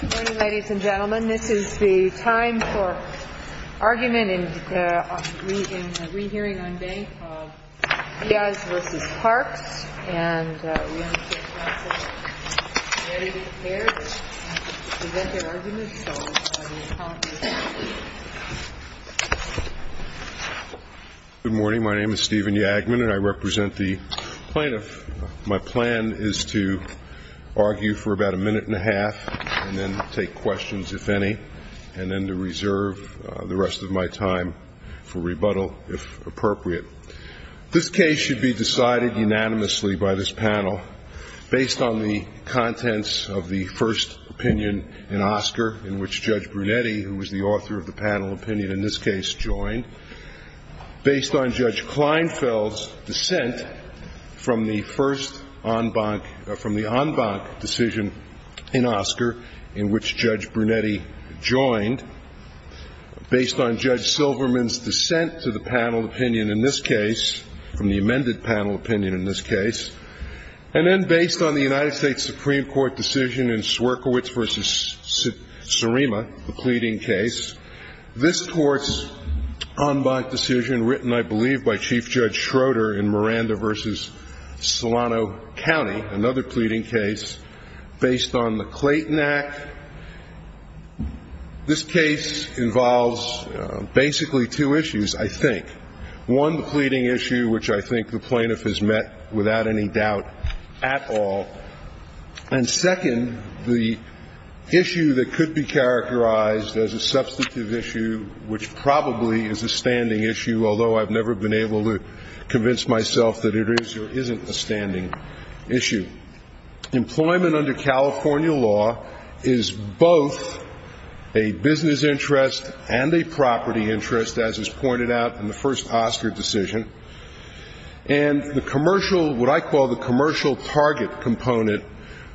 Good morning, ladies and gentlemen. This is the time for argument in the re-hearing on bank of Diaz v. Parks. And we understand Council is ready and prepared to present their arguments. So I will call on Mr. Yagman. Good morning. My name is Stephen Yagman, and I represent the plaintiff. My plan is to argue for about a minute and a half and then take questions, if any, and then to reserve the rest of my time for rebuttal, if appropriate. This case should be decided unanimously by this panel based on the contents of the first opinion in Oscar, in which Judge Brunetti, who was the author of the panel opinion in this case, joined, based on Judge Kleinfeld's dissent from the first en banc, from the en banc decision in Oscar, in which Judge Brunetti joined, based on Judge Silverman's dissent to the panel opinion in this case, from the amended panel opinion in this case, and then based on the United States Supreme Court decision in Swierkiewicz v. Surima, the pleading case. This Court's en banc decision, written, I believe, by Chief Judge Schroeder in Miranda v. Solano County, another pleading case, based on the Clayton Act. This case involves basically two issues, I think. One, the pleading issue, which I think the plaintiff has met without any doubt at all. And second, the issue that could be characterized as a substantive issue, which probably is a standing issue, although I've never been able to convince myself that it is or isn't a standing issue. Employment under California law is both a business interest and a property interest, as is pointed out in the first Oscar decision. And the commercial, what I call the commercial target component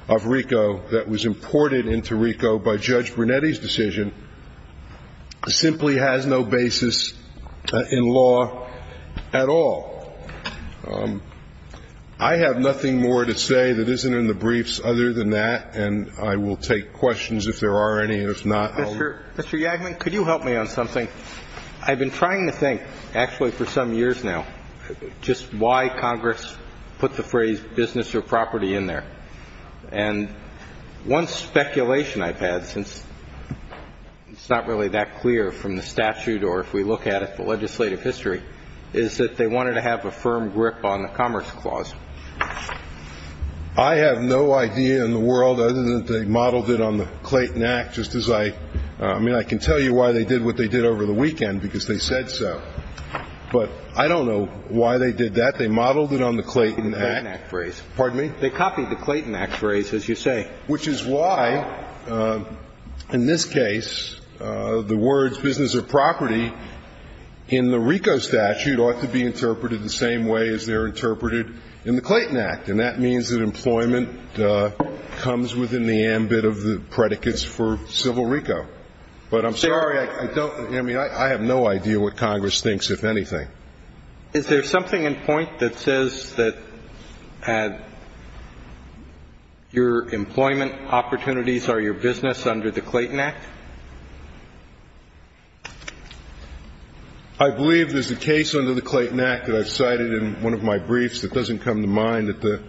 of RICO that was imported into RICO by Judge Brunetti's decision simply has no basis in law at all. I have nothing more to say that isn't in the briefs other than that, and I will take questions if there are any and if not, I'll ---- Mr. Yagman, could you help me on something? I've been trying to think actually for some years now just why Congress put the phrase business or property in there. And one speculation I've had, since it's not really that clear from the statute or if we look at it from legislative history, is that they wanted to have a firm grip on the Commerce Clause. I have no idea in the world, other than they modeled it on the Clayton Act, just as I ---- I'm not sure why they did what they did over the weekend because they said so. But I don't know why they did that. They modeled it on the Clayton Act. The Clayton Act phrase. Pardon me? They copied the Clayton Act phrase, as you say. Which is why, in this case, the words business or property in the RICO statute ought to be interpreted the same way as they're interpreted in the Clayton Act. And that means that employment comes within the ambit of the predicates for civil RICO. But I'm sorry, I don't ---- I mean, I have no idea what Congress thinks, if anything. Is there something in point that says that your employment opportunities are your business under the Clayton Act? I believe there's a case under the Clayton Act that I've cited in one of my briefs that doesn't come to mind at the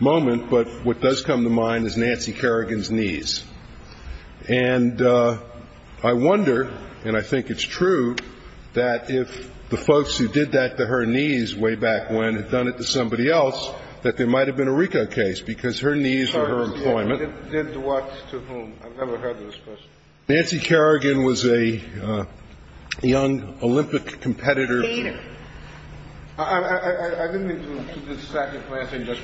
moment. But what does come to mind is Nancy Kerrigan's knees. And I wonder, and I think it's true, that if the folks who did that to her knees way back when had done it to somebody else, that there might have been a RICO case, because her knees are her employment. Did what to whom? I've never heard this question. Nancy Kerrigan was a young Olympic competitor. I didn't mean to dissect your question. Just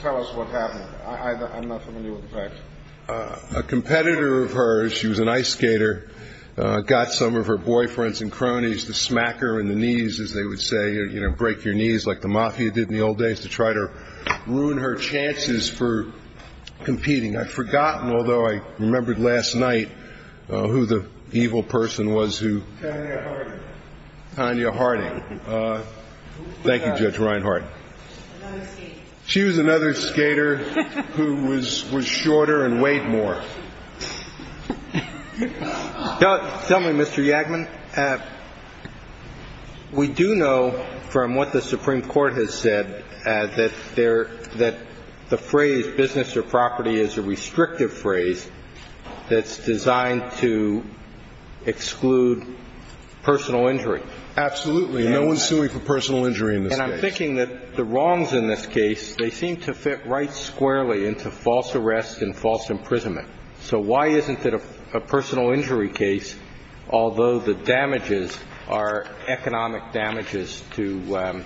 tell us what happened. I'm not familiar with the facts. A competitor of hers, she was an ice skater, got some of her boyfriends and cronies to smack her in the knees, as they would say, you know, break your knees like the mafia did in the old days to try to ruin her chances for competing. I've forgotten, although I remembered last night who the evil person was who ---- Tanya Harding. Tanya Harding. Thank you, Judge Reinhardt. Another skater. Another skater who was shorter and weighed more. Tell me, Mr. Yagman, we do know from what the Supreme Court has said that there ---- that the phrase business or property is a restrictive phrase that's designed to exclude personal injury. Absolutely. No one's suing for personal injury in this case. They seem to fit right squarely into false arrest and false imprisonment. So why isn't it a personal injury case, although the damages are economic damages to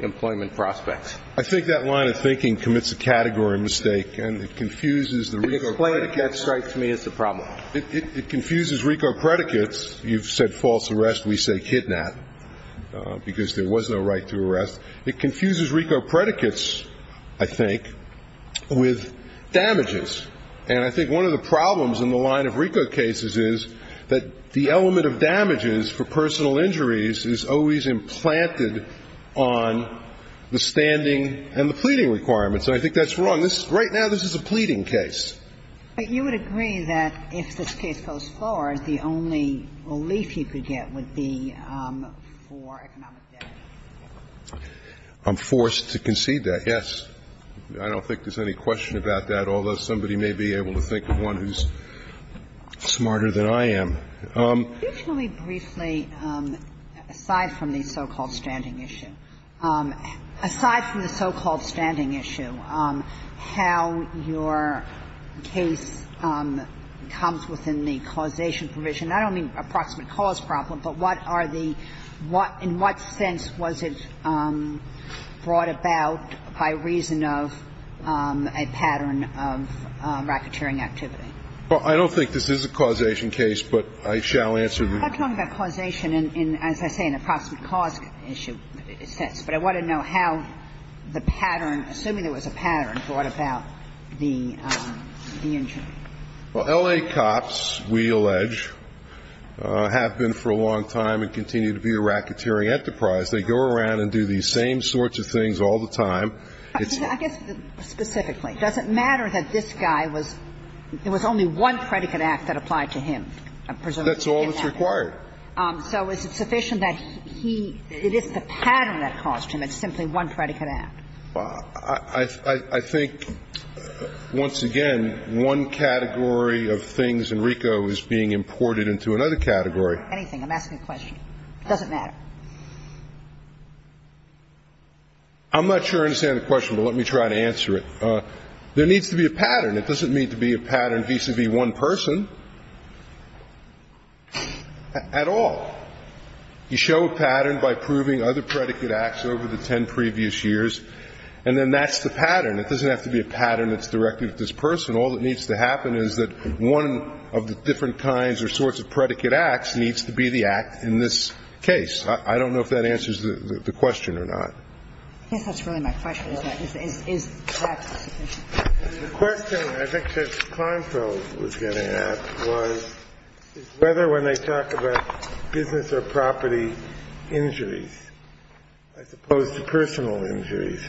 employment prospects? I think that line of thinking commits a category mistake, and it confuses the RICO predicates. Explain it. That strikes me as the problem. It confuses RICO predicates. You've said false arrest. We say kidnap because there was no right to arrest. It confuses RICO predicates, I think, with damages. And I think one of the problems in the line of RICO cases is that the element of damages for personal injuries is always implanted on the standing and the pleading requirements. And I think that's wrong. Right now, this is a pleading case. But you would agree that if this case goes forward, the only relief you could get would be for economic damages. I'm forced to concede that, yes. I don't think there's any question about that, although somebody may be able to think of one who's smarter than I am. Can you tell me briefly, aside from the so-called standing issue, aside from the so-called standing issue, how your case comes within the causation provision? I don't mean approximate cause problem, but what are the – in what sense was it brought about by reason of a pattern of racketeering activity? Well, I don't think this is a causation case, but I shall answer the question. I'm talking about causation in, as I say, an approximate cause issue sense. But I want to know how the pattern, assuming there was a pattern, brought about the injury. Well, L.A. Cops, we allege, have been for a long time and continue to be a racketeering enterprise. They go around and do these same sorts of things all the time. I guess, specifically, does it matter that this guy was – there was only one predicate act that applied to him, presumably? That's all that's required. So is it sufficient that he – it is the pattern that caused him, it's simply one predicate act? I think, once again, one category of things, Enrico, is being imported into another category. Anything. I'm asking a question. It doesn't matter. I'm not sure I understand the question, but let me try to answer it. There needs to be a pattern. It doesn't need to be a pattern vis-à-vis one person at all. You show a pattern by proving other predicate acts over the ten previous years, and then that's the pattern. It doesn't have to be a pattern that's directed at this person. All that needs to happen is that one of the different kinds or sorts of predicate acts needs to be the act in this case. I don't know if that answers the question or not. I guess that's really my question, isn't it? Is that sufficient? The question I think Judge Kleinfeld was getting at was whether, when they talk about business or property injuries, as opposed to personal injuries,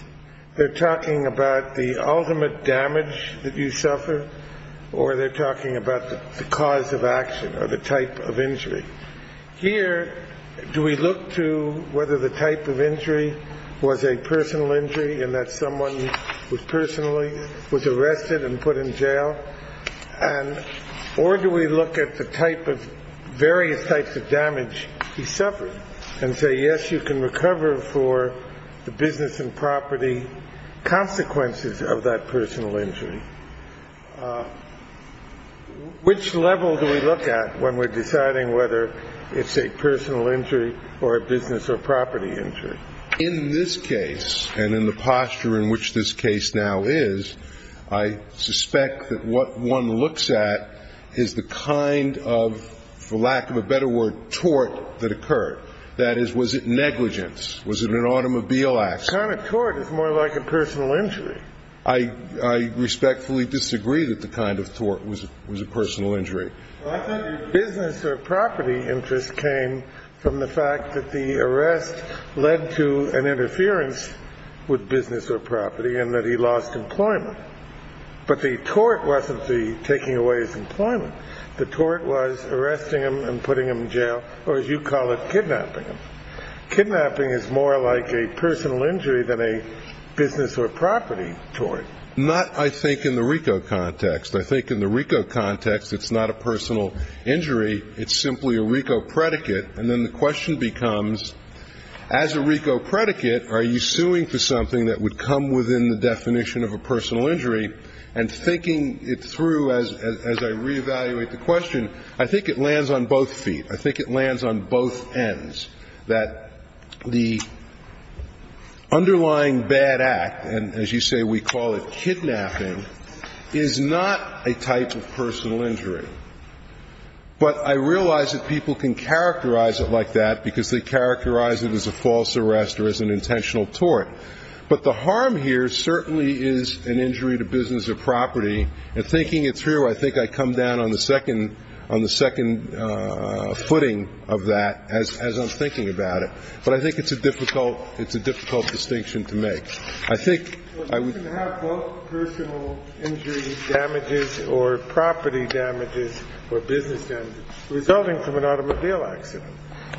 they're talking about the ultimate damage that you suffer or they're talking about the cause of action or the type of injury. Here, do we look to whether the type of injury was a personal injury in that someone was personally arrested and put in jail? Or do we look at the type of various types of damage he suffered and say, yes, you can recover for the business and property consequences of that personal injury? Which level do we look at when we're deciding whether it's a personal injury or a business or property injury? In this case and in the posture in which this case now is, I suspect that what one looks at is the kind of, for lack of a better word, tort that occurred. That is, was it negligence? Was it an automobile accident? The kind of tort is more like a personal injury. I respectfully disagree that the kind of tort was a personal injury. I think the business or property interest came from the fact that the arrest led to an interference with business or property and that he lost employment. But the tort wasn't the taking away his employment. The tort was arresting him and putting him in jail, or as you call it, kidnapping him. Kidnapping is more like a personal injury than a business or property tort. Not, I think, in the RICO context. I think in the RICO context it's not a personal injury. It's simply a RICO predicate. And then the question becomes, as a RICO predicate, are you suing for something that would come within the definition of a personal injury? And thinking it through as I reevaluate the question, I think it lands on both feet. I think it lands on both ends, that the underlying bad act, and as you say we call it kidnapping, is not a type of personal injury. But I realize that people can characterize it like that because they characterize it as a false arrest or as an intentional tort. But the harm here certainly is an injury to business or property. And thinking it through, I think I come down on the second footing of that as I'm thinking about it. But I think it's a difficult distinction to make. I think I would Well, you can have both personal injury damages or property damages or business damages resulting from an automobile accident.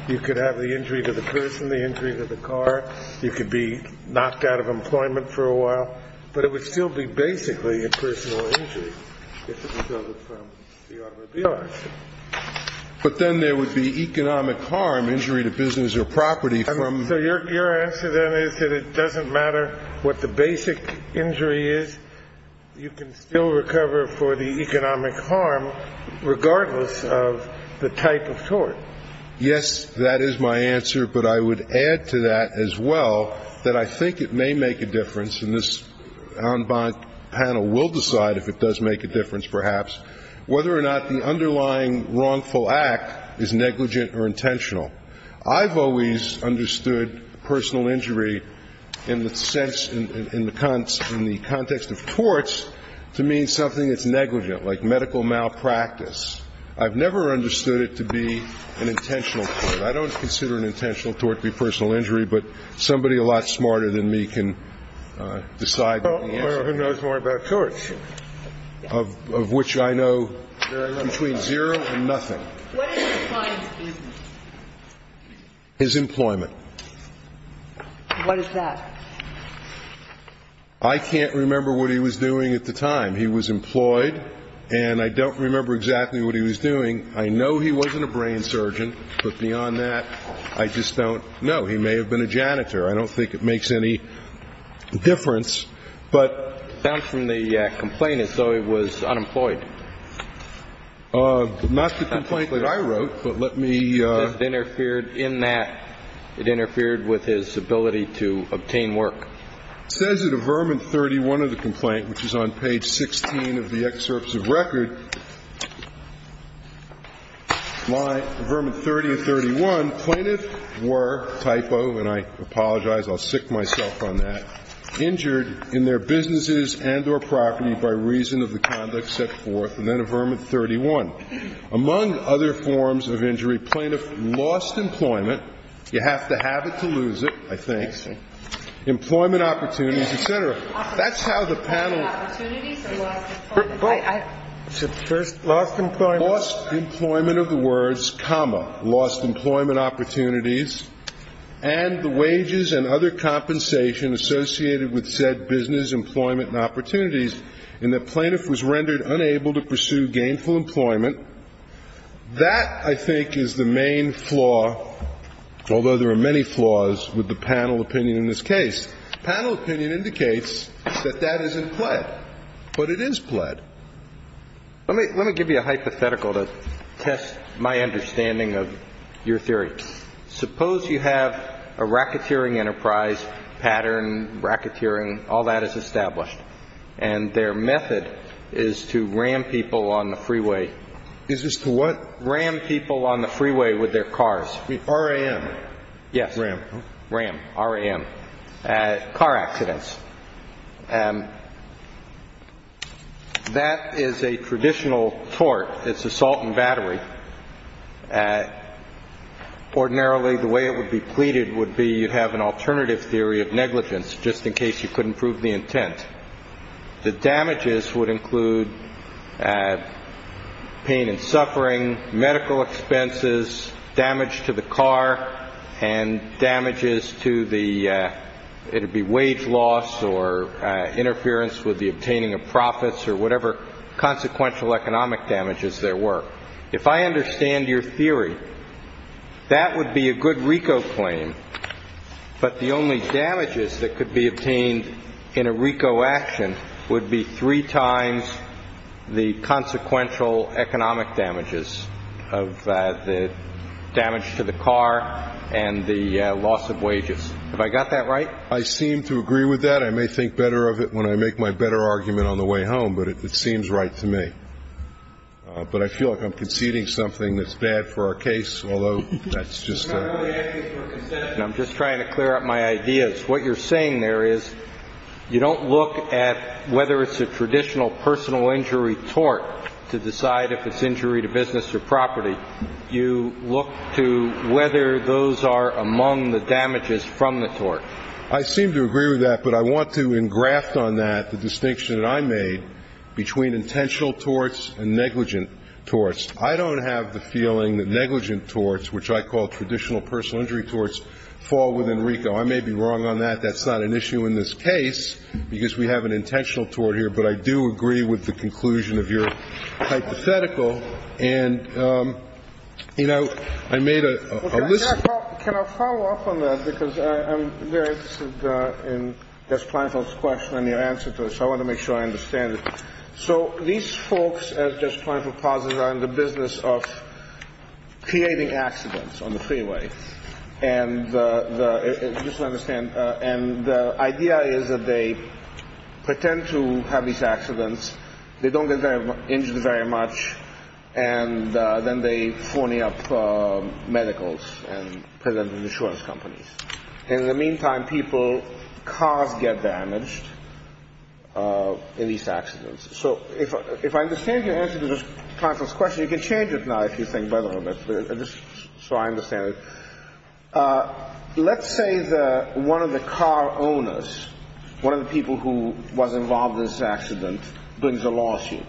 You could have the injury to the person, the injury to the car. You could be knocked out of employment for a while. But it would still be basically a personal injury if it resulted from the automobile accident. But then there would be economic harm, injury to business or property from So your answer then is that it doesn't matter what the basic injury is, you can still recover for the economic harm regardless of the type of tort. Yes, that is my answer. But I would add to that as well that I think it may make a difference, and this en banc panel will decide if it does make a difference perhaps, whether or not the underlying wrongful act is negligent or intentional. I've always understood personal injury in the context of torts to mean something that's negligent, like medical malpractice. I've never understood it to be an intentional tort. I don't consider an intentional tort to be personal injury, but somebody a lot smarter than me can decide the answer. Well, who knows more about torts? Of which I know between zero and nothing. What is the client's business? His employment. What is that? I can't remember what he was doing at the time. He was employed, and I don't remember exactly what he was doing. I know he wasn't a brain surgeon, but beyond that, I just don't know. He may have been a janitor. I don't think it makes any difference. It sounds from the complaint as though he was unemployed. Not the complaint that I wrote, but let me ---- It interfered in that. It interfered with his ability to obtain work. It says in Avermant 31 of the complaint, which is on page 16 of the excerpts of record, line Avermant 30 and 31, plaintiff were, typo, and I apologize, I'll sick myself on that, injured in their businesses and or property by reason of the conduct set forth in Avermant 31. Among other forms of injury, plaintiff lost employment. You have to have it to lose it, I think. Employment opportunities, et cetera. That's how the panel ---- Employment opportunities or lost employment? First, lost employment. Lost employment of the words, comma, lost employment opportunities, and the wages and other compensation associated with said business, employment, and opportunities in that plaintiff was rendered unable to pursue gainful employment. That, I think, is the main flaw, although there are many flaws with the panel opinion in this case. Panel opinion indicates that that isn't pled, but it is pled. Let me give you a hypothetical to test my understanding of your theory. Suppose you have a racketeering enterprise pattern, racketeering, all that is established, and their method is to ram people on the freeway. Is this to what? Ram people on the freeway with their cars. R.A.M. Yes. Ram. Ram, R.A.M. Car accidents. That is a traditional tort. It's assault and battery. Ordinarily, the way it would be pleaded would be you'd have an alternative theory of negligence, just in case you couldn't prove the intent. The damages would include pain and suffering, medical expenses, damage to the car, and damages to the, it would be wage loss or interference with the obtaining of profits or whatever consequential economic damages there were. If I understand your theory, that would be a good RICO claim, but the only damages that could be obtained in a RICO action would be three times the consequential economic damages, of the damage to the car and the loss of wages. Have I got that right? I seem to agree with that. I may think better of it when I make my better argument on the way home, but it seems right to me. But I feel like I'm conceding something that's bad for our case, although that's just a ---- I'm not really asking for a concession. I'm just trying to clear up my ideas. What you're saying there is you don't look at whether it's a traditional personal injury tort to decide if it's injury to business or property. You look to whether those are among the damages from the tort. I seem to agree with that, but I want to engraft on that the distinction that I made between intentional torts and negligent torts. I don't have the feeling that negligent torts, which I call traditional personal injury torts, fall within RICO. I may be wrong on that. That's not an issue in this case because we have an intentional tort here, but I do agree with the conclusion of your hypothetical. And, you know, I made a list. Can I follow up on that? Because I'm very interested in Judge Plainfield's question and your answer to it, so I want to make sure I understand it. So these folks, as Judge Plainfield posited, are in the business of creating accidents on the freeway. And the idea is that they pretend to have these accidents. They don't get injured very much, and then they phony up medicals and present them to insurance companies. In the meantime, people's cars get damaged in these accidents. So if I understand your answer to this conference question, you can change it now if you think better of it, just so I understand it. Let's say that one of the car owners, one of the people who was involved in this accident, brings a lawsuit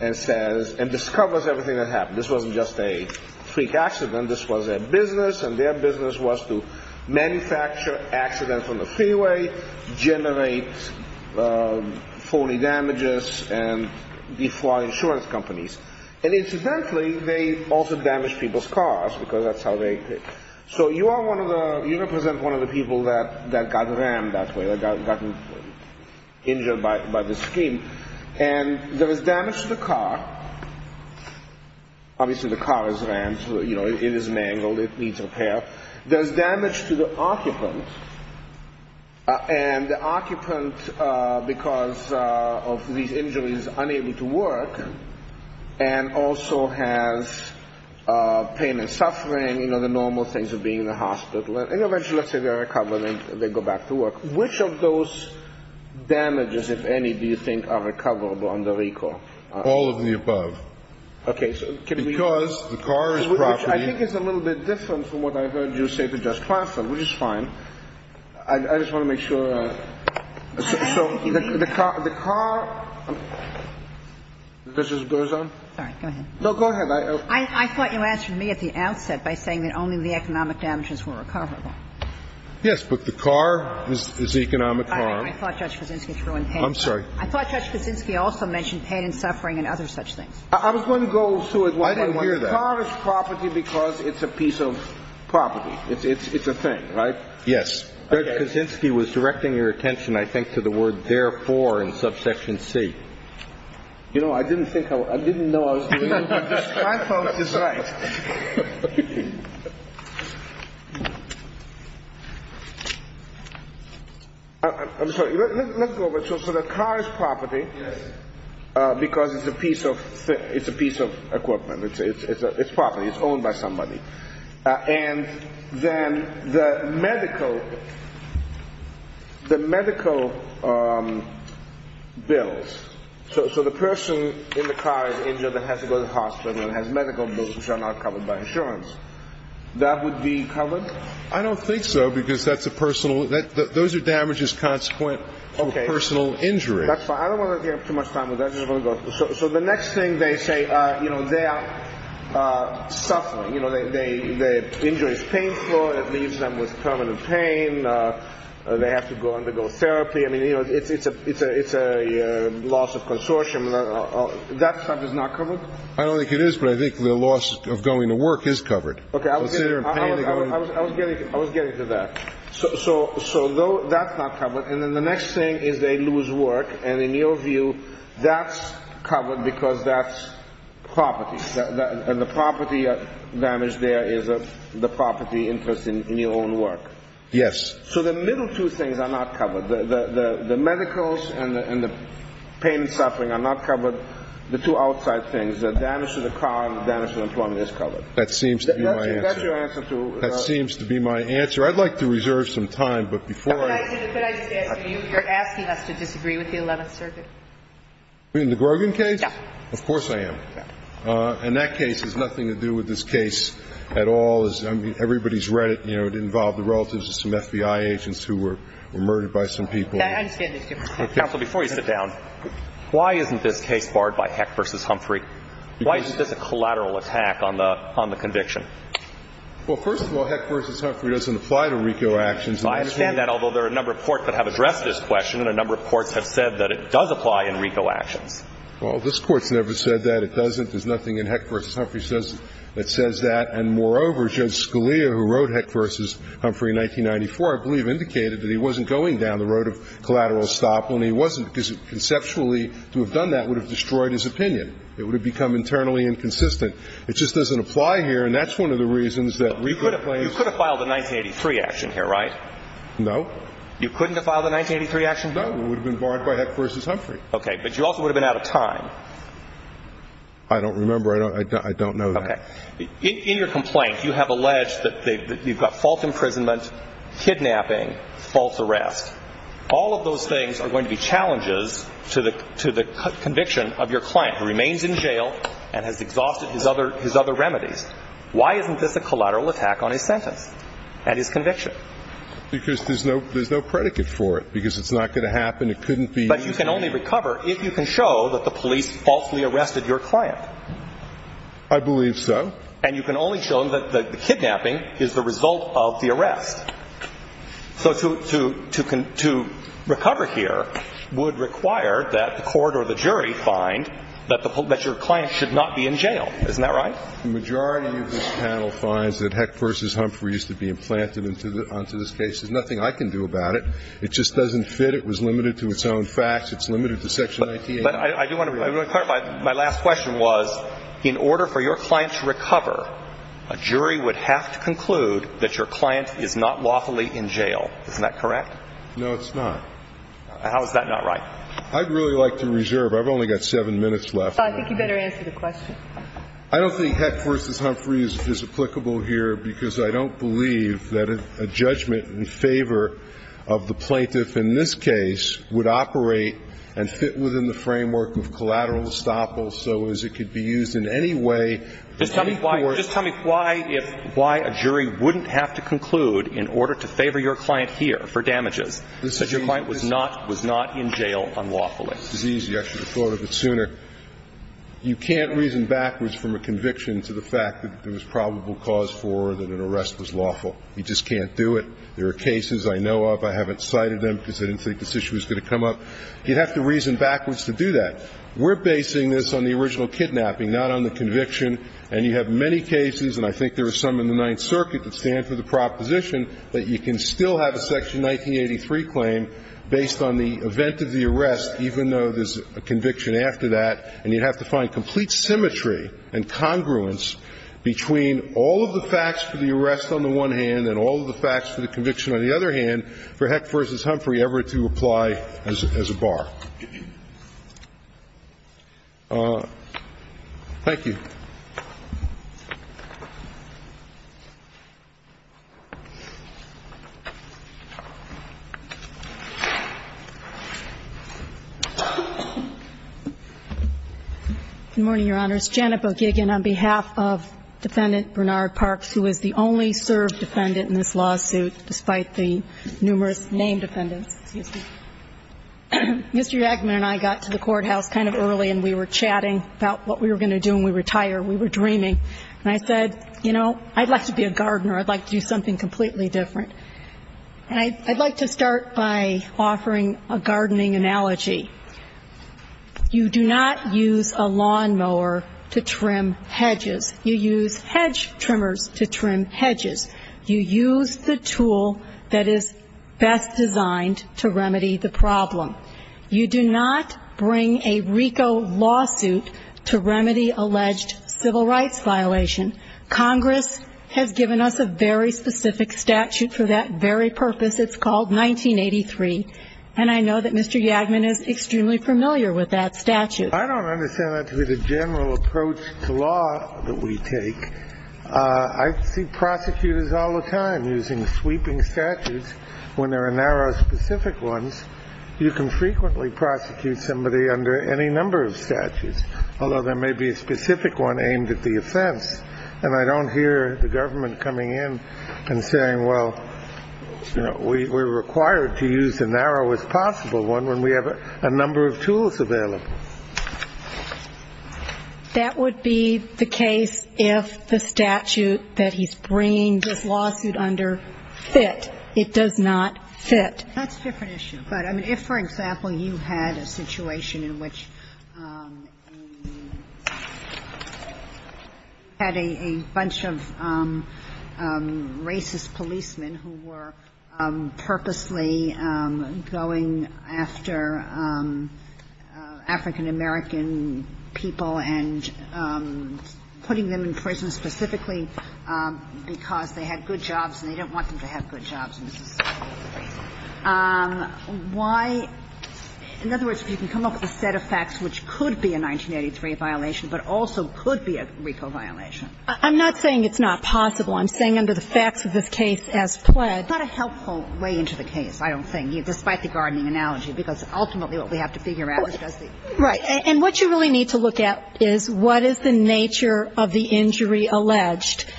and discovers everything that happened. This wasn't just a freak accident. This was their business, and their business was to manufacture accidents on the freeway, generate phony damages, and defraud insurance companies. And incidentally, they also damaged people's cars, because that's how they did it. So you represent one of the people that got rammed that way, that got injured by this scheme. And there is damage to the car. Obviously, the car is rammed, so it is mangled, it needs repair. There's damage to the occupant, and the occupant, because of these injuries, is unable to work and also has pain and suffering, you know, the normal things of being in the hospital. And eventually, let's say they recover and they go back to work. Which of those damages, if any, do you think are recoverable under RICO? All of the above. Because the car is property. I think it's a little bit different from what I heard you say to Judge Plaston, which is fine. I just want to make sure. So the car goes on? No, go ahead. I thought you answered me at the outset by saying that only the economic damages were recoverable. Yes, but the car is economic harm. I thought Judge Kuczynski also mentioned pain and suffering and other such things. I was going to go to it. I didn't hear that. The car is property because it's a piece of property. It's a thing, right? Yes. Judge Kuczynski was directing your attention, I think, to the word therefore in subsection C. You know, I didn't think I was – I didn't know I was doing it. I thought it was right. I'm sorry. Let's go over it. So the car is property because it's a piece of equipment. It's property. It's owned by somebody. And then the medical – the medical bills. So the person in the car is injured and has to go to the hospital and has medical bills, which are not covered by insurance. That would be covered? I don't think so because that's a personal – those are damages consequent to a personal injury. Okay. That's fine. I don't want to give up too much time with that. So the next thing they say, you know, they are suffering. You know, the injury is painful. It leaves them with permanent pain. They have to go undergo therapy. I mean, you know, it's a loss of consortium. That stuff is not covered? I don't think it is, but I think the loss of going to work is covered. Okay. I was getting to that. So that's not covered. And then the next thing is they lose work. And in your view, that's covered because that's property. And the property damage there is the property interest in your own work. Yes. So the middle two things are not covered. The medicals and the pain and suffering are not covered. The two outside things, the damage to the car and the damage to employment is covered. That seems to be my answer. That's your answer to – That seems to be my answer. I'd like to reserve some time, but before I – You're asking us to disagree with the Eleventh Circuit. You mean the Grogan case? Yes. Of course I am. And that case has nothing to do with this case at all. I mean, everybody's read it. You know, it involved the relatives of some FBI agents who were murdered by some people. I understand the difference. Counsel, before you sit down, why isn't this case barred by Heck v. Humphrey? Why is this a collateral attack on the conviction? Well, first of all, Heck v. Humphrey doesn't apply to RICO actions. I understand that, although there are a number of courts that have addressed this question and a number of courts have said that it does apply in RICO actions. Well, this Court's never said that. It doesn't. There's nothing in Heck v. Humphrey that says that. And moreover, Judge Scalia, who wrote Heck v. Humphrey in 1994, I believe, indicated that he wasn't going down the road of collateral estoppel, and he wasn't because conceptually to have done that would have destroyed his opinion. It would have become internally inconsistent. It just doesn't apply here, and that's one of the reasons that RICO claims – You could have filed a 1983 action here, right? No. You couldn't have filed a 1983 action? No. It would have been barred by Heck v. Humphrey. Okay, but you also would have been out of time. I don't remember. I don't know that. Okay. In your complaint, you have alleged that you've got false imprisonment, kidnapping, false arrest. All of those things are going to be challenges to the conviction of your client, who remains in jail and has exhausted his other remedies. Why isn't this a collateral attack on his sentence and his conviction? Because there's no predicate for it because it's not going to happen. It couldn't be. But you can only recover if you can show that the police falsely arrested your client. I believe so. And you can only show that the kidnapping is the result of the arrest. So to recover here would require that the court or the jury find that your client should not be in jail. Isn't that right? The majority of this panel finds that Heck v. Humphrey used to be implanted onto this case. There's nothing I can do about it. It just doesn't fit. It was limited to its own facts. It's limited to Section 98. But I do want to clarify. My last question was, in order for your client to recover, a jury would have to conclude that your client is not lawfully in jail. Isn't that correct? No, it's not. How is that not right? I'd really like to reserve. I've only got seven minutes left. I think you better answer the question. I don't think Heck v. Humphrey is applicable here because I don't believe that a judgment in favor of the plaintiff in this case would operate and fit within the framework of collateral estoppel so as it could be used in any way. Just tell me why a jury wouldn't have to conclude in order to favor your client here for damages, that your client was not in jail unlawfully. I should have thought of it sooner. You can't reason backwards from a conviction to the fact that there was probable cause for or that an arrest was lawful. You just can't do it. There are cases I know of. I haven't cited them because I didn't think this issue was going to come up. You'd have to reason backwards to do that. We're basing this on the original kidnapping, not on the conviction. And you have many cases, and I think there are some in the Ninth Circuit, that stand for the proposition that you can still have a Section 1983 claim based on the event of the arrest, even though there's a conviction after that, and you'd have to find complete symmetry and congruence between all of the facts for the arrest on the one hand and all of the facts for the conviction on the other hand for Heck v. Humphrey ever to apply as a bar. Thank you. Good morning, Your Honors. Janet Bogigin on behalf of Defendant Bernard Parks, who is the only served defendant in this lawsuit despite the numerous named defendants. Excuse me. Mr. Yakman and I got to the courthouse kind of early, and we were chatting about what we were going to do when we retire. We were dreaming. And I said, you know, I'd like to be a gardener. I'd like to do something completely different. And I'd like to start by offering a gardening analogy. You do not use a lawnmower to trim hedges. You use hedge trimmers to trim hedges. You use the tool that is best designed to remedy the problem. You do not bring a RICO lawsuit to remedy alleged civil rights violation. Congress has given us a very specific statute for that very purpose. It's called 1983. And I know that Mr. Yakman is extremely familiar with that statute. I don't understand that to be the general approach to law that we take. I see prosecutors all the time using sweeping statutes. When there are narrow, specific ones, you can frequently prosecute somebody under any number of statutes, although there may be a specific one aimed at the offense. And I don't hear the government coming in and saying, well, we're required to use the narrowest possible one when we have a number of tools available. That would be the case if the statute that he's bringing this lawsuit under fit. It does not fit. That's a different issue. But, I mean, if, for example, you had a situation in which you had a bunch of racist policemen who were purposely going after African-American people and putting them in prison specifically because they had good jobs and they didn't want them to have good jobs. Why? In other words, if you can come up with a set of facts which could be a 1983 violation but also could be a RICO violation. I'm not saying it's not possible. I'm saying under the facts of this case as pled. It's not a helpful way into the case, I don't think, despite the gardening analogy, because ultimately what we have to figure out is just the. Right. And what you really need to look at is what is the nature of the injury alleged.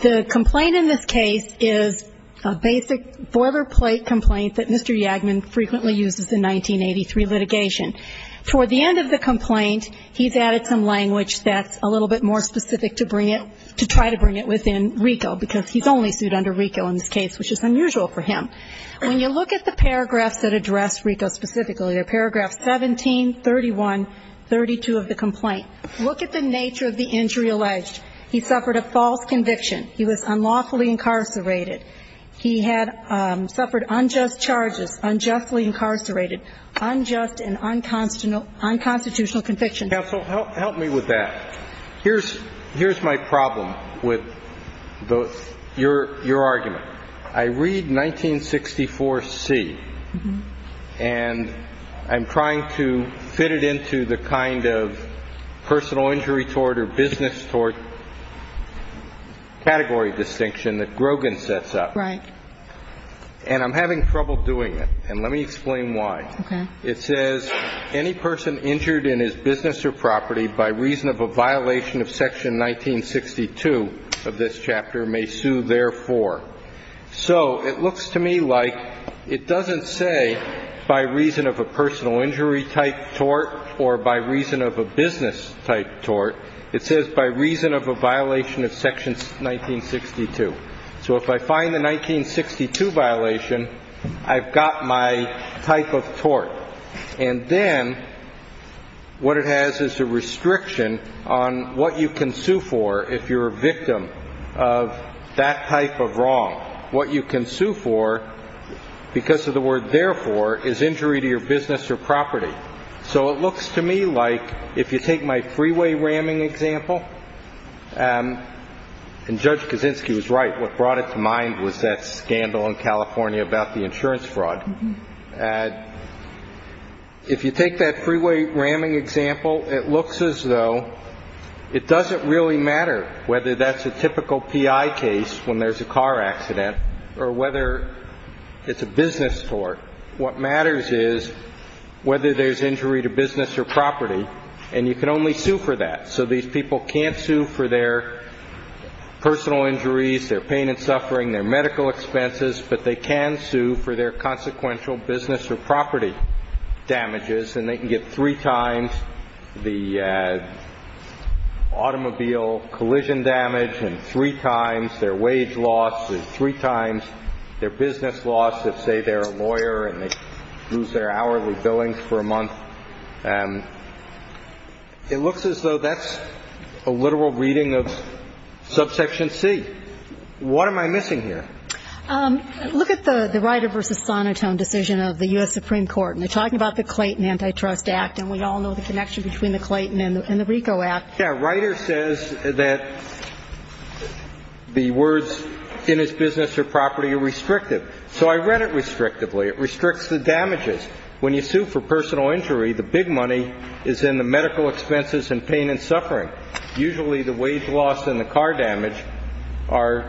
The complaint in this case is a basic boilerplate complaint that Mr. Yagman frequently uses in 1983 litigation. Toward the end of the complaint, he's added some language that's a little bit more specific to try to bring it within RICO because he's only sued under RICO in this case, which is unusual for him. When you look at the paragraphs that address RICO specifically, they're paragraphs 17, 31, 32 of the complaint, look at the nature of the injury alleged. He suffered a false conviction. He was unlawfully incarcerated. He had suffered unjust charges, unjustly incarcerated, unjust and unconstitutional convictions. Counsel, help me with that. Here's my problem with your argument. I read 1964C, and I'm trying to fit it into the kind of personal injury toward or business toward category distinction that Grogan sets up. Right. And I'm having trouble doing it. And let me explain why. Okay. It says, Any person injured in his business or property by reason of a violation of Section 1962 of this chapter may sue therefore. So it looks to me like it doesn't say by reason of a personal injury type toward or by reason of a business type toward. It says by reason of a violation of Section 1962. So if I find the 1962 violation, I've got my type of tort. And then what it has is a restriction on what you can sue for if you're a victim of that type of wrong. What you can sue for because of the word therefore is injury to your business or property. So it looks to me like if you take my freeway ramming example, and Judge Kaczynski was right. What brought it to mind was that scandal in California about the insurance fraud. If you take that freeway ramming example, it looks as though it doesn't really matter whether that's a typical PI case when there's a car accident or whether it's a business tort. What matters is whether there's injury to business or property. And you can only sue for that. So these people can't sue for their personal injuries, their pain and suffering, their medical expenses, but they can sue for their consequential business or property damages. And they can get three times the automobile collision damage and three times their wage loss and three times their business loss if, say, they're a lawyer and they lose their hourly billings for a month. It looks as though that's a literal reading of subsection C. What am I missing here? Look at the Ryder v. Sonotone decision of the U.S. Supreme Court. And they're talking about the Clayton Antitrust Act, and we all know the connection between the Clayton and the RICO Act. Yeah. Ryder says that the words in his business or property are restrictive. So I read it restrictively. It restricts the damages. When you sue for personal injury, the big money is in the medical expenses and pain and suffering. Usually the wage loss and the car damage are,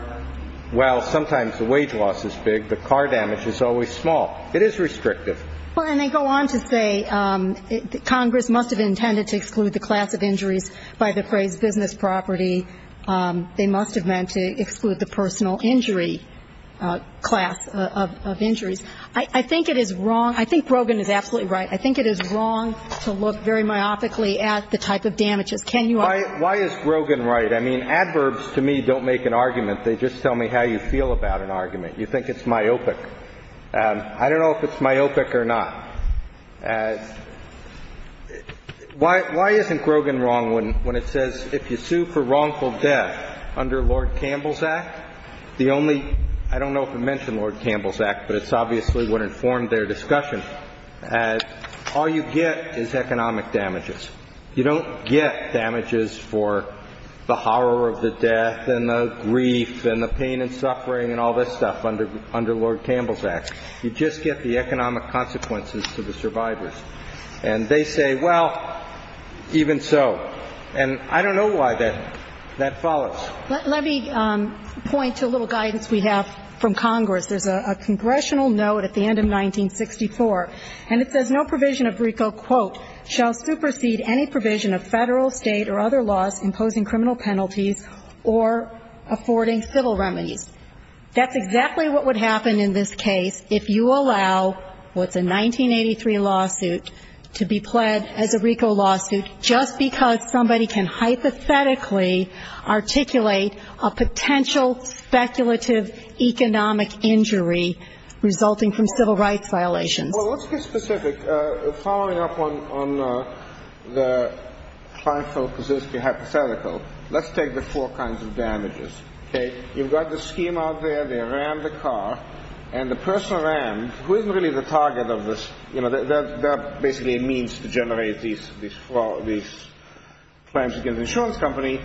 while sometimes the wage loss is big, the car damage is always small. It is restrictive. Well, and they go on to say Congress must have intended to exclude the class of injuries by the phrase business property. They must have meant to exclude the personal injury class of injuries. I think it is wrong. I think Grogan is absolutely right. I think it is wrong to look very myopically at the type of damages. Can you argue? Why is Grogan right? I mean, adverbs, to me, don't make an argument. They just tell me how you feel about an argument. You think it's myopic. I don't know if it's myopic or not. Why isn't Grogan wrong when it says if you sue for wrongful death under Lord Campbell's Act, the only ‑‑ I don't know if it mentioned Lord Campbell's Act, but it's obviously what informed their discussion. All you get is economic damages. You don't get damages for the horror of the death and the grief and the pain and suffering and all this stuff under Lord Campbell's Act. You just get the economic consequences to the survivors. And they say, well, even so. And I don't know why that follows. Let me point to a little guidance we have from Congress. There's a congressional note at the end of 1964. And it says no provision of RICO, quote, shall supersede any provision of Federal, State, or other laws imposing criminal penalties or affording civil remedies. That's exactly what would happen in this case if you allow what's a 1983 lawsuit to be pled as a RICO lawsuit just because somebody can hypothetically articulate a potential speculative economic injury resulting from civil rights violations. Well, let's get specific. Following up on the trifle hypothetical, let's take the four kinds of damages. Okay? You've got the scheme out there. They rammed the car. And the person rammed, who isn't really the target of this? That's basically a means to generate these claims against an insurance company.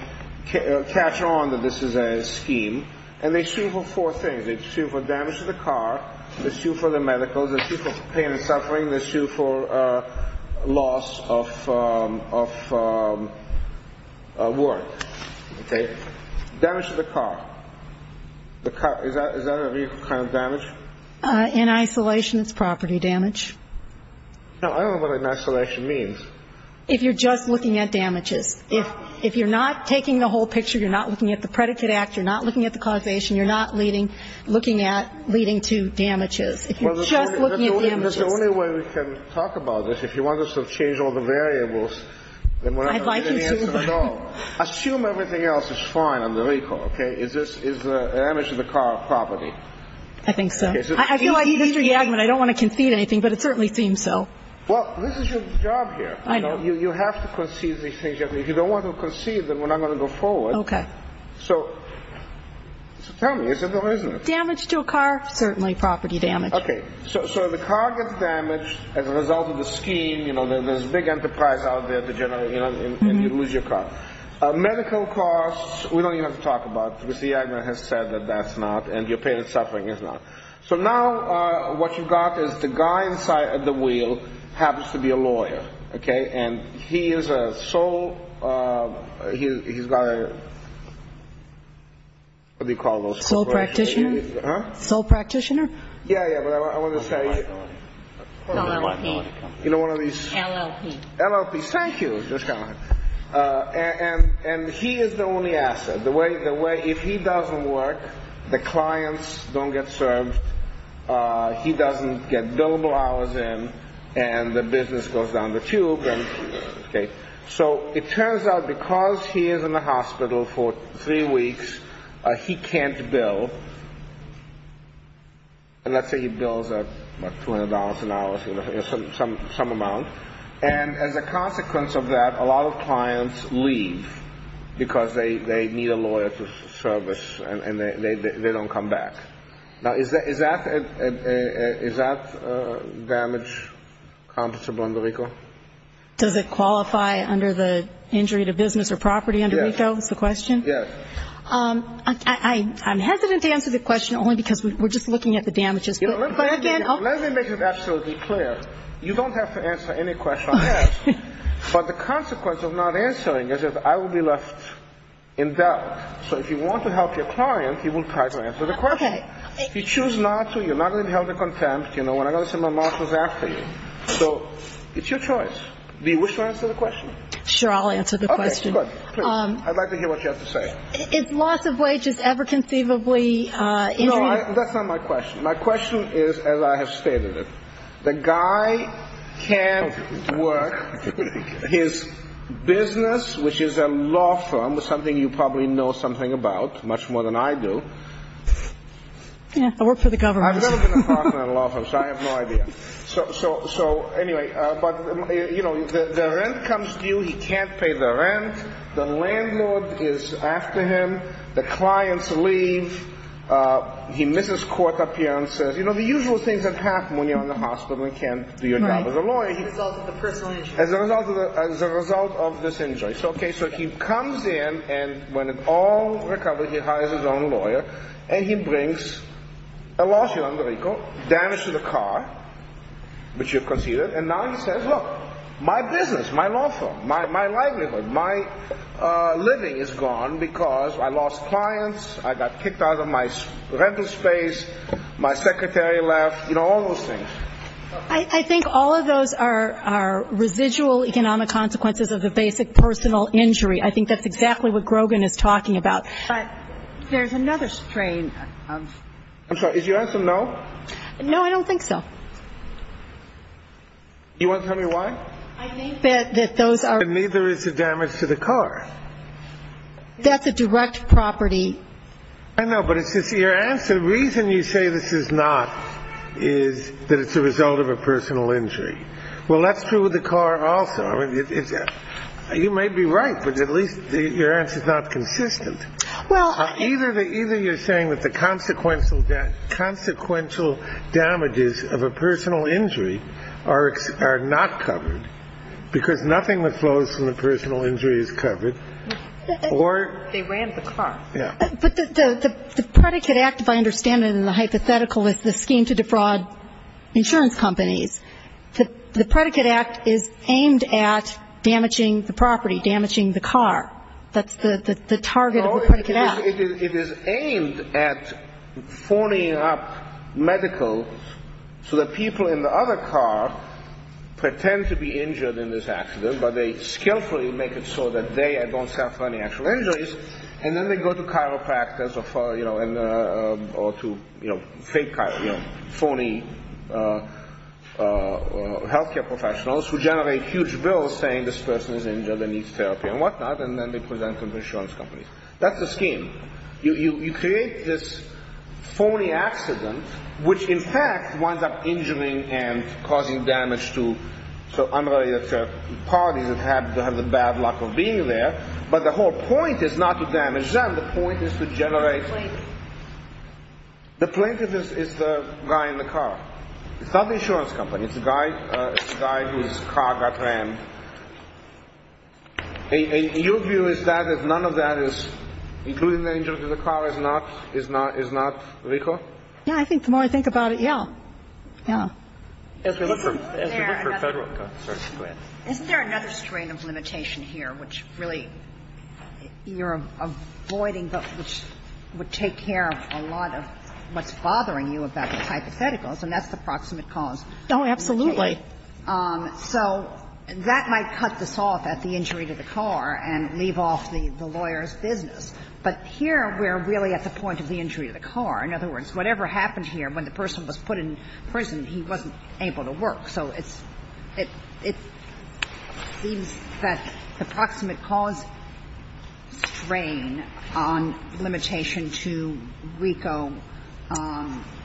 Catch on that this is a scheme. And they sue for four things. They sue for damage to the car. They sue for the medicals. They sue for pain and suffering. They sue for loss of work. Okay? Damage to the car. Is that a RICO kind of damage? In isolation, it's property damage. Now, I don't know what an isolation means. If you're just looking at damages. If you're not taking the whole picture, you're not looking at the predicate act, you're not looking at the causation, you're not looking at leading to damages. If you're just looking at damages. Well, that's the only way we can talk about this. If you want us to change all the variables, then we're not going to get any answer at all. I'd like you to. Assume everything else is fine on the RICO, okay? Is the damage to the car property? I think so. I feel like Mr. Yagman, I don't want to concede anything, but it certainly seems so. Well, this is your job here. I know. You have to concede these things. If you don't want to concede, then we're not going to go forward. Okay. So tell me, is it or isn't it? Damage to a car, certainly property damage. Okay. So the car gets damaged as a result of the scheme. You know, there's a big enterprise out there to generate, you know, and you lose your car. Medical costs, we don't even have to talk about because Mr. Yagman has said that that's not, and your pain and suffering is not. So now what you've got is the guy inside of the wheel happens to be a lawyer, okay? And he is a sole, he's got a, what do you call those? Sole practitioner? Huh? Sole practitioner? Yeah, yeah, but I want to say. LLP. You know one of these. LLP. LLP. Thank you. And he is the only asset. The way, if he doesn't work, the clients don't get served, he doesn't get billable hours in, and the business goes down the tube. Okay. So it turns out because he is in the hospital for three weeks, he can't bill. And let's say he bills $200 an hour, some amount. And as a consequence of that, a lot of clients leave because they need a lawyer to service, and they don't come back. Now is that damage compensable under RICO? Does it qualify under the injury to business or property under RICO is the question? Yes. I'm hesitant to answer the question only because we're just looking at the damages. Let me make it absolutely clear. You don't have to answer any question I ask. But the consequence of not answering is that I will be left in doubt. So if you want to help your client, he will try to answer the question. Okay. If you choose not to, you're not going to be held to contempt, you know, and I've got to send my marshals after you. So it's your choice. Do you wish to answer the question? Sure, I'll answer the question. Okay, good. Please. I'd like to hear what you have to say. Is loss of wages ever conceivably injury? No, that's not my question. My question is, as I have stated it, the guy can't work his business, which is a law firm, something you probably know something about much more than I do. Yeah, I work for the government. I've never been a partner in a law firm, so I have no idea. So, anyway, but, you know, the rent comes due. He can't pay the rent. The landlord is after him. The clients leave. He misses court appearances. You know, the usual things that happen when you're in the hospital and can't do your job as a lawyer. As a result of the personal injury. As a result of this injury. Okay, so he comes in, and when it all recovers, he hires his own lawyer, and he brings a lawsuit on the vehicle, damage to the car, which you've conceded, and now he says, look, my business, my law firm, my livelihood, my living is gone because I lost clients, I got kicked out of my rental space, my secretary left, you know, all those things. I think all of those are residual economic consequences of the basic personal injury. I think that's exactly what Grogan is talking about. But there's another strain. I'm sorry, did you answer no? No, I don't think so. Do you want to tell me why? I think that those are. Neither is the damage to the car. That's a direct property. I know, but it's just your answer. The reason you say this is not is that it's a result of a personal injury. Well, that's true with the car also. You may be right, but at least your answer's not consistent. Either you're saying that the consequential damages of a personal injury are not covered because nothing that flows from the personal injury is covered or... They ran the car. But the predicate act, if I understand it in the hypothetical, is the scheme to defraud insurance companies. The predicate act is aimed at damaging the property, damaging the car. That's the target of the predicate act. It is aimed at phoning up medical so that people in the other car pretend to be injured in this accident, but they skillfully make it so that they don't suffer any actual injuries, and then they go to chiropractors or to fake, phony health care professionals who generate huge bills saying this person is injured and needs therapy and whatnot, and then they present them to insurance companies. That's the scheme. You create this phony accident which, in fact, winds up injuring and causing damage to unrelated parties that have the bad luck of being there, but the whole point is not to damage them. The point is to generate... The plaintiff. The plaintiff is the guy in the car. It's not the insurance company. It's the guy whose car got rammed. Your view is that if none of that is including the injury to the car is not, is not, is not legal? Yeah. I think the more I think about it, yeah. Yeah. As we look for Federal... Go ahead. Isn't there another strain of limitation here which really you're avoiding, but which would take care of a lot of what's bothering you about the hypotheticals, and that's the proximate cause? Oh, absolutely. Okay. So that might cut this off at the injury to the car and leave off the lawyer's business. But here we're really at the point of the injury to the car. In other words, whatever happened here, when the person was put in prison, he wasn't able to work. So it's, it seems that the proximate cause strain on limitation to RICO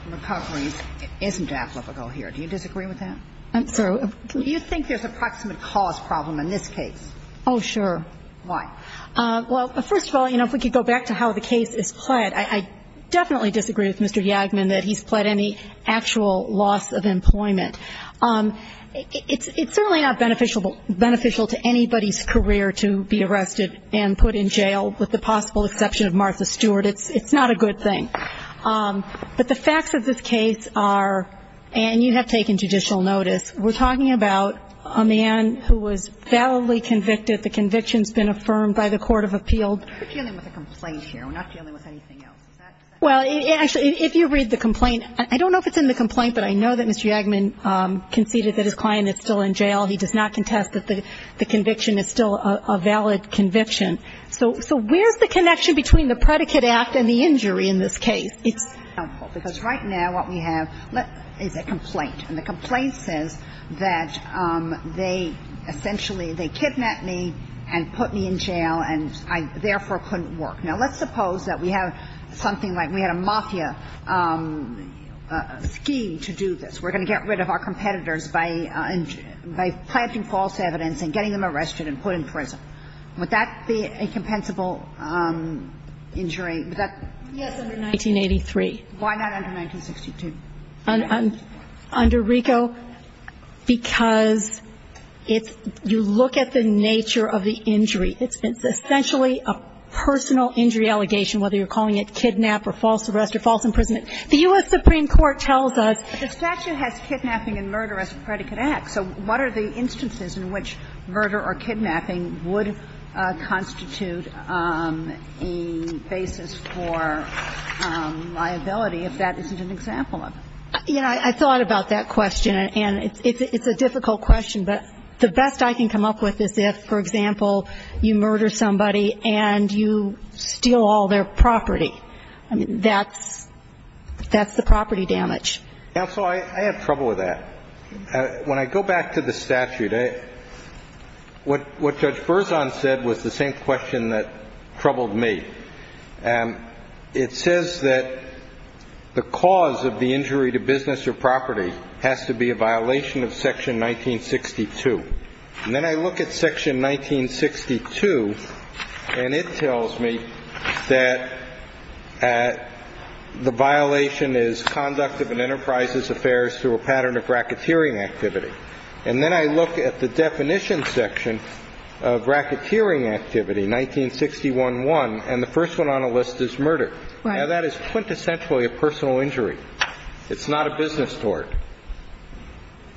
recoveries isn't applicable here. Do you disagree with that? I'm sorry. Do you think there's a proximate cause problem in this case? Oh, sure. Why? Well, first of all, you know, if we could go back to how the case is pled, I definitely disagree with Mr. Yagman that he's pled any actual loss of employment. It's certainly not beneficial to anybody's career to be arrested and put in jail, with the possible exception of Martha Stewart. It's not a good thing. But the facts of this case are, and you have taken judicial notice, we're talking about a man who was validly convicted. The conviction's been affirmed by the court of appeal. We're dealing with a complaint here. We're not dealing with anything else. Is that correct? Well, actually, if you read the complaint, I don't know if it's in the complaint, but I know that Mr. Yagman conceded that his client is still in jail. He does not contest that the conviction is still a valid conviction. So where's the connection between the predicate act and the injury in this case? Because right now what we have is a complaint. And the complaint says that they essentially, they kidnapped me and put me in jail and I therefore couldn't work. Now, let's suppose that we have something like we had a mafia scheme to do this. We're going to get rid of our competitors by planting false evidence and getting them arrested and put in prison. Would that be a compensable injury? Yes, under 1983. Why not under 1962? Under RICO, because if you look at the nature of the injury, it's essentially a personal injury allegation, whether you're calling it kidnap or false arrest or false imprisonment. The U.S. Supreme Court tells us the statute has kidnapping and murder as a predicate act. So what are the instances in which murder or kidnapping would constitute a basis for liability if that isn't an example of it? You know, I thought about that question, and it's a difficult question, but the best I can come up with is if, for example, you murder somebody and you steal all their property. That's the property damage. Counsel, I have trouble with that. When I go back to the statute, what Judge Berzon said was the same question that troubled me. It says that the cause of the injury to business or property has to be a violation of Section 1962. And then I look at Section 1962, and it tells me that the violation is conduct of an enterprise's affairs through a pattern of racketeering activity. And then I look at the definition section of racketeering activity, 1961-1, and the first one on the list is murder. Now, that is quintessentially a personal injury. It's not a business tort.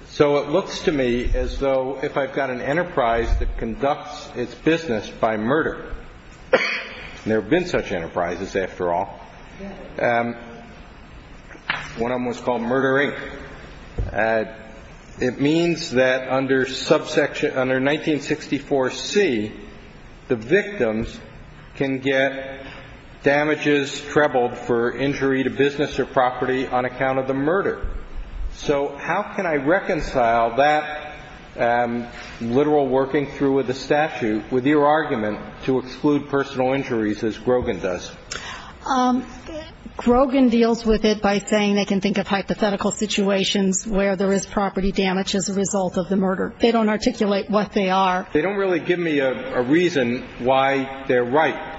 So it looks to me as though if I've got an enterprise that conducts its business by murder, and there have been such enterprises, after all, one of them was called Murder, Inc. It means that under subsection 1964C, the victims can get damages trebled for injury to business or property on account of the murder. So how can I reconcile that literal working through of the statute with your argument to exclude personal injuries as Grogan does? Grogan deals with it by saying they can think of hypothetical situations where there is property damage as a result of the murder. They don't articulate what they are. They don't really give me a reason why they're right.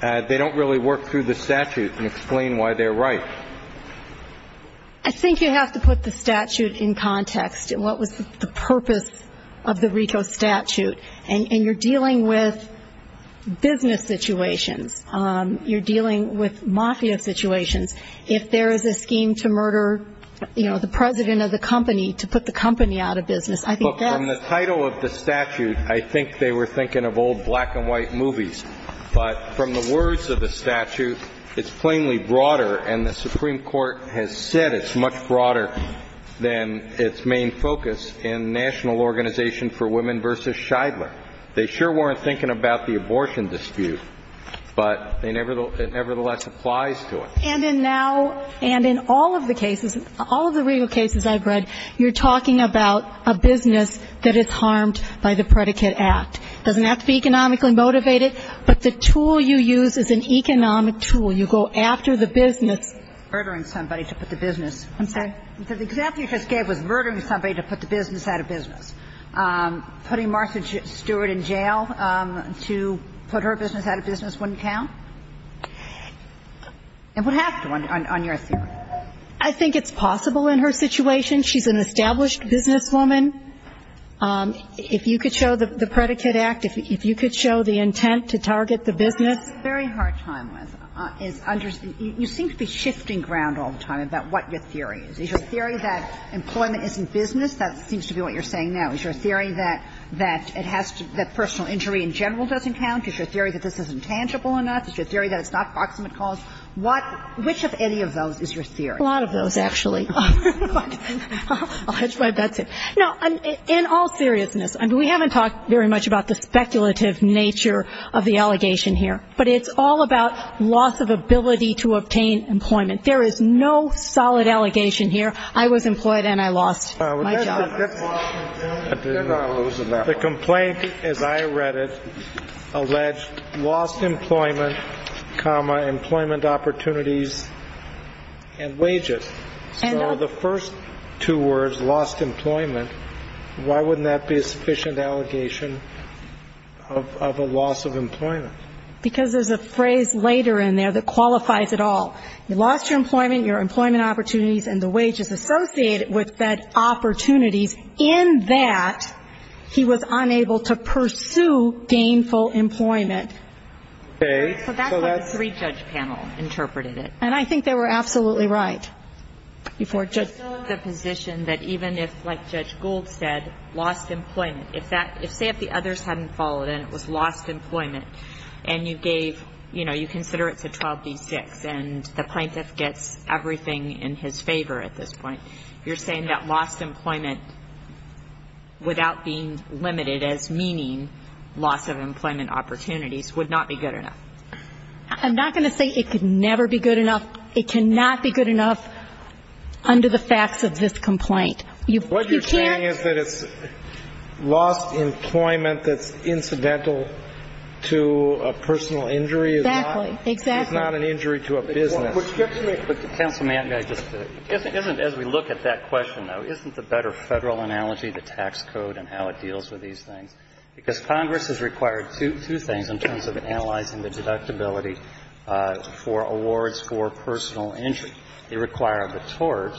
They don't really work through the statute and explain why they're right. I think you have to put the statute in context and what was the purpose of the RICO statute. And you're dealing with business situations. You're dealing with mafia situations. If there is a scheme to murder, you know, the president of the company, to put the company out of business, I think that's. Look, from the title of the statute, I think they were thinking of old black-and-white movies. But from the words of the statute, it's plainly broader, and the Supreme Court has said it's much broader than its main focus in national organization for women versus Scheidler. They sure weren't thinking about the abortion dispute, but it nevertheless applies to it. And in now, and in all of the cases, all of the RICO cases I've read, you're talking about a business that is harmed by the predicate act. It doesn't have to be economically motivated, but the tool you use is an economic tool. You go after the business. Murdering somebody to put the business. I'm sorry? The example you just gave was murdering somebody to put the business out of business. Putting Marcia Stewart in jail to put her business out of business wouldn't count? It would have to on your theory. I think it's possible in her situation. She's an established businesswoman. If you could show the predicate act, if you could show the intent to target the business. What I'm having a very hard time with is you seem to be shifting ground all the time about what your theory is. Is your theory that employment isn't business? That seems to be what you're saying now. Is your theory that it has to be that personal injury in general doesn't count? Is your theory that this isn't tangible enough? Is your theory that it's not proximate cause? What – which of any of those is your theory? A lot of those, actually. I'll hedge my bets here. Now, in all seriousness, I mean, we haven't talked very much about the speculative nature of the allegation here. But it's all about loss of ability to obtain employment. There is no solid allegation here. I was employed and I lost my job. The complaint, as I read it, alleged lost employment, comma, employment opportunities and wages. So the first two words, lost employment, why wouldn't that be a sufficient allegation of a loss of employment? Because there's a phrase later in there that qualifies it all. You lost your employment, your employment opportunities and the wages associated with that opportunities in that he was unable to pursue gainful employment. Okay. So that's how the three-judge panel interpreted it. And I think they were absolutely right. Before Judge – It's still in the position that even if, like Judge Gould said, lost employment, if that – say if the others hadn't followed and it was lost employment and you gave – you know, you consider it's a 12D6 and the plaintiff gets everything in his favor at this point, you're saying that lost employment without being limited as meaning loss of employment opportunities would not be good enough? I'm not going to say it could never be good enough. It cannot be good enough under the facts of this complaint. You can't – But the fact that it's lost employment that's incidental to a personal injury is not – Exactly. Exactly. Is not an injury to a business. Would you have to make – Counsel, may I just – as we look at that question, though, isn't the better Federal analogy the tax code and how it deals with these things? Because Congress has required two things in terms of analyzing the deductibility for awards for personal injury. They require the tort.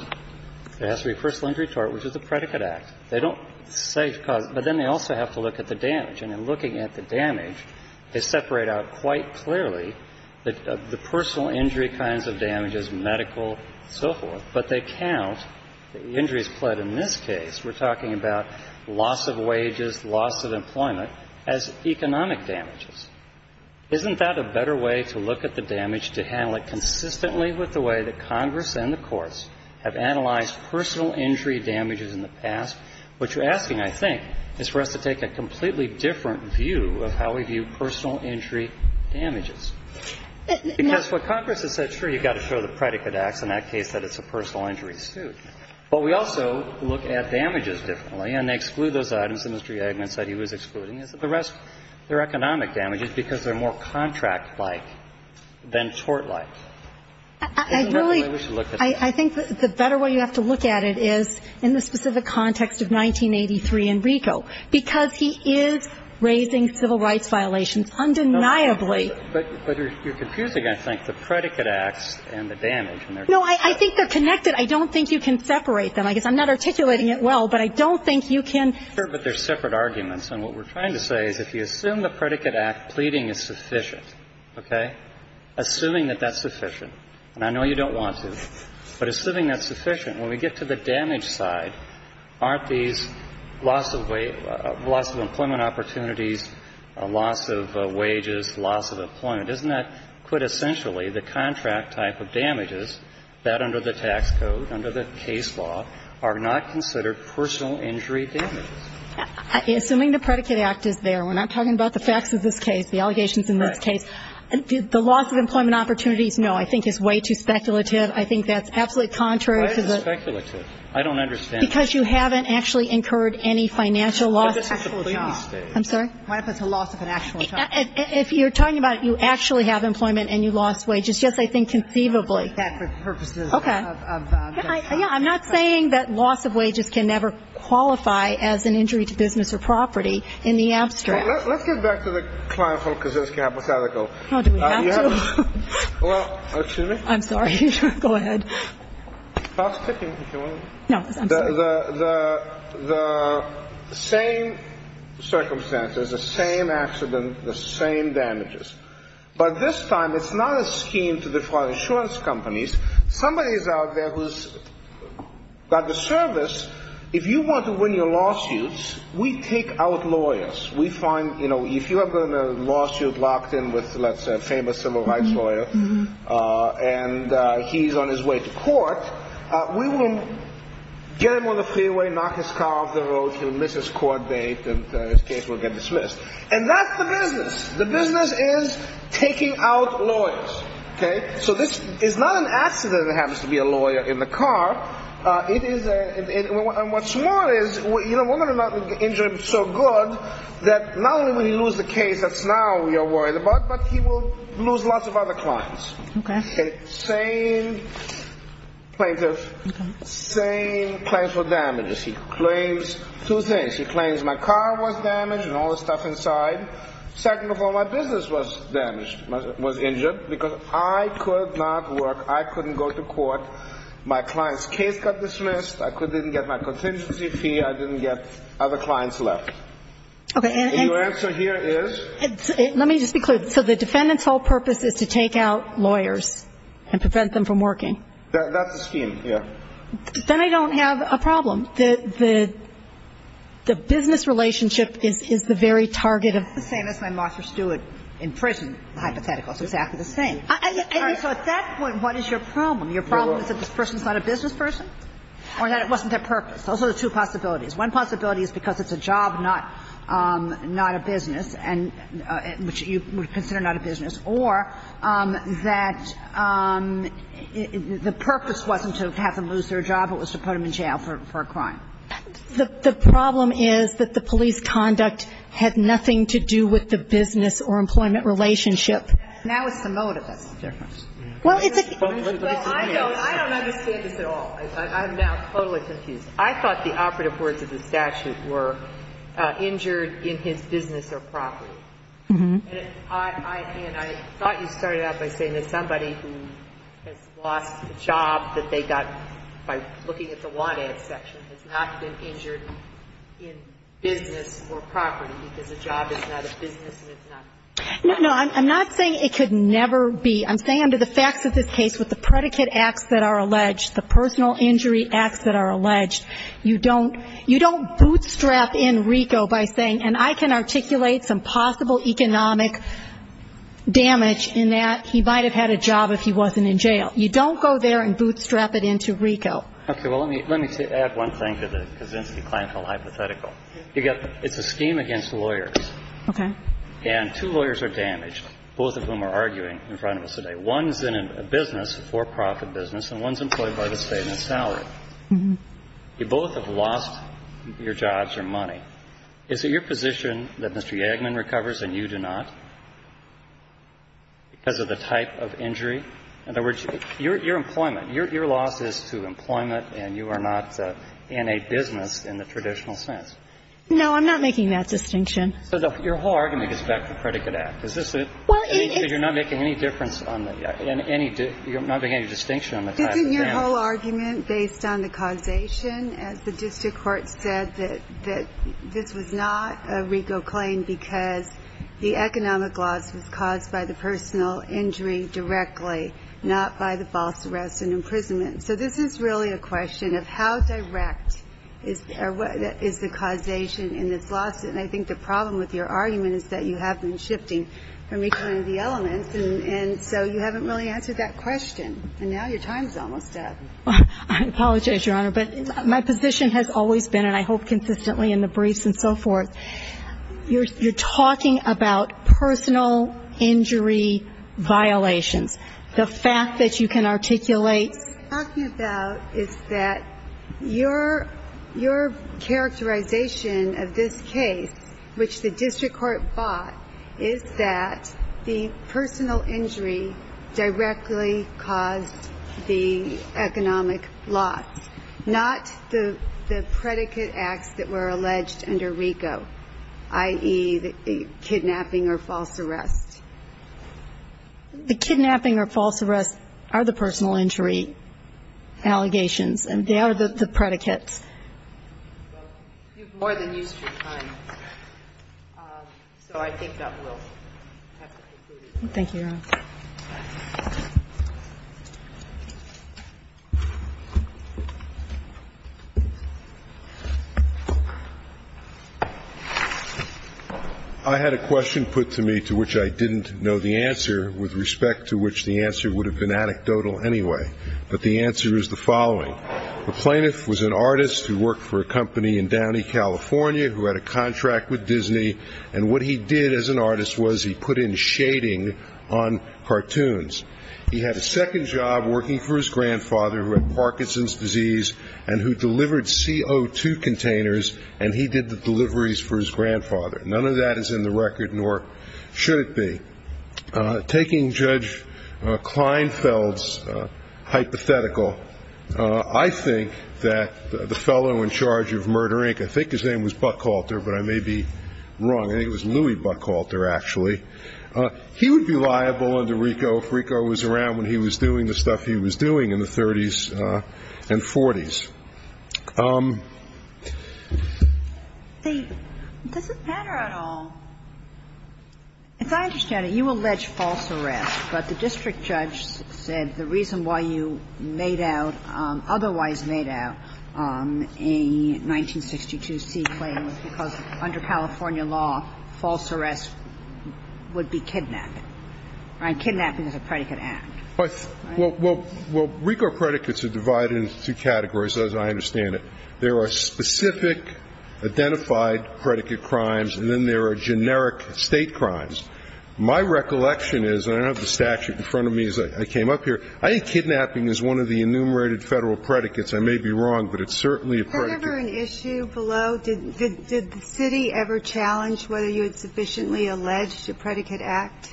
There has to be a personal injury tort, which is the Predicate Act. They don't say – but then they also have to look at the damage. And in looking at the damage, they separate out quite clearly the personal injury kinds of damages, medical, so forth, but they count the injuries pled in this case – we're talking about loss of wages, loss of employment – as economic damages. Isn't that a better way to look at the damage, to handle it consistently with the way that Congress and the courts have analyzed personal injury damages in the past? What you're asking, I think, is for us to take a completely different view of how we view personal injury damages. Because what Congress has said, sure, you've got to show the Predicate Acts in that case that it's a personal injury suit. But we also look at damages differently, and they exclude those items that Mr. Yagman said he was excluding. The rest, they're economic damages because they're more contract-like than tort-like. I really – I think the better way you have to look at it is in the specific context of 1983 in RICO, because he is raising civil rights violations undeniably. But you're confusing, I think, the Predicate Acts and the damage. No, I think they're connected. I don't think you can separate them. I guess I'm not articulating it well, but I don't think you can. Sure, but they're separate arguments. And what we're trying to say is if you assume the Predicate Act, pleading is sufficient, okay, assuming that that's sufficient, and I know you don't want to, but assuming that's sufficient, when we get to the damage side, aren't these loss of employment opportunities, loss of wages, loss of employment, isn't that quintessentially the contract type of damages that under the tax code, under the case law, are not considered personal injury damages? Assuming the Predicate Act is there, we're not talking about the facts of this case, the allegations in this case. The loss of employment opportunities, no, I think is way too speculative. I think that's absolutely contrary to the ---- Why is it speculative? I don't understand. Because you haven't actually incurred any financial loss. But this is a pleading state. I'm sorry? What if it's a loss of an actual job? If you're talking about you actually have employment and you lost wages, yes, I think conceivably. Okay. I'm not saying that loss of wages can never qualify as an injury to business or property in the abstract. Let's get back to the Kleinfeld-Kaczynski hypothetical. Do we have to? Well, excuse me? I'm sorry. Go ahead. The same circumstances, the same accident, the same damages. But this time it's not a scheme to defraud insurance companies. Somebody is out there who's got the service. If you want to win your lawsuits, we take out lawyers. We find if you have been in a lawsuit locked in with let's say a famous civil rights lawyer and he's on his way to court, we will get him on the freeway, knock his car off the road, he'll miss his court date and his case will get dismissed. And that's the business. The business is taking out lawyers. Okay? So this is not an accident that happens to be a lawyer in the car. And what's more is women are not injured so good that not only will he lose the case that's now we are worried about, but he will lose lots of other clients. Okay. And same plaintiff, same Kleinfeld damages. He claims two things. He claims my car was damaged and all the stuff inside. Second of all, my business was damaged, was injured because I could not work. I couldn't go to court. My client's case got dismissed. I didn't get my contingency fee. I didn't get other clients left. Okay. And your answer here is? Let me just be clear. So the defendant's whole purpose is to take out lawyers and prevent them from working. That's the scheme, yeah. Then I don't have a problem. The business relationship is the very target of I'm not saying this and I'm Marcia Stewart in prison. The hypothetical is exactly the same. So at that point, what is your problem? Your problem is that this person is not a business person? Or that it wasn't their purpose? Those are the two possibilities. One possibility is because it's a job, not a business, which you would consider not a business. Or that the purpose wasn't to have them lose their job. It was to put them in jail for a crime. The problem is that the police conduct had nothing to do with the business or employment relationship. Now it's the motive that's the difference. Well, I don't understand this at all. I'm now totally confused. I thought the operative words of the statute were injured in his business or property. And I thought you started out by saying that somebody who has lost a job that they got by looking at the want ads section has not been injured in business or property because the job is not a business and it's not a property. No, I'm not saying it could never be. I'm saying under the facts of this case with the predicate acts that are alleged, the personal injury acts that are alleged, you don't bootstrap in RICO by saying, and I can articulate some possible economic damage in that he might have had a job if he wasn't in jail. You don't go there and bootstrap it into RICO. Okay. Well, let me add one thing to the Kaczynski-Klantel hypothetical. It's a scheme against lawyers. Okay. And two lawyers are damaged, both of whom are arguing in front of us today. One is in a business, a for-profit business, and one is employed by the State in a salary. Mm-hmm. You both have lost your jobs or money. Is it your position that Mr. Yagman recovers and you do not because of the type of injury? In other words, your employment, your loss is to employment and you are not in a business in the traditional sense. No, I'm not making that distinction. So your whole argument gets back to the Predicate Act. Is this it? Well, it is. You're not making any difference on the – you're not making any distinction on the type of damage. Isn't your whole argument based on the causation, as the district court said, that this was not a RICO claim because the economic loss was caused by the personal injury directly, not by the false arrest and imprisonment? So this is really a question of how direct is the causation in this lawsuit. And I think the problem with your argument is that you have been shifting from each one of the elements, and so you haven't really answered that question. And now your time is almost up. I apologize, Your Honor, but my position has always been, and I hope consistently in the briefs and so forth, you're talking about personal injury violations. The fact that you can articulate – your characterization of this case, which the district court bought, is that the personal injury directly caused the economic loss, not the predicate acts that were alleged under RICO, i.e., the kidnapping or false arrest. The kidnapping or false arrest are the personal injury allegations, and they are the predicates. Well, you've more than used your time, so I think that will have to conclude. Thank you, Your Honor. I had a question put to me, to which I didn't know the answer, with respect to which the answer would have been anecdotal anyway. But the answer is the following. The plaintiff was an artist who worked for a company in Downey, California, who had a contract with Disney. And what he did as an artist was he put in shading on a piece of paper, He had a second job working for his grandfather who had Parkinson's disease and who delivered CO2 containers, and he did the deliveries for his grandfather. None of that is in the record, nor should it be. Taking Judge Kleinfeld's hypothetical, I think that the fellow in charge of Murder, Inc. – I think his name was Buckhalter, but I may be wrong. I think it was Louis Buckhalter, actually. He would be liable under RICO if RICO was around when he was doing the stuff he was doing in the 30s and 40s. Does it matter at all? As I understand it, you allege false arrest, but the district judge said the reason why you otherwise made out a 1962 C claim was because under California law, false arrest would be kidnapped. Kidnapping is a predicate act. Well, RICO predicates are divided into two categories, as I understand it. There are specific identified predicate crimes, and then there are generic state crimes. My recollection is, and I don't have the statute in front of me as I came up here, I think kidnapping is one of the enumerated Federal predicates. I may be wrong, but it's certainly a predicate. Was there ever an issue below? Did the city ever challenge whether you had sufficiently alleged a predicate act?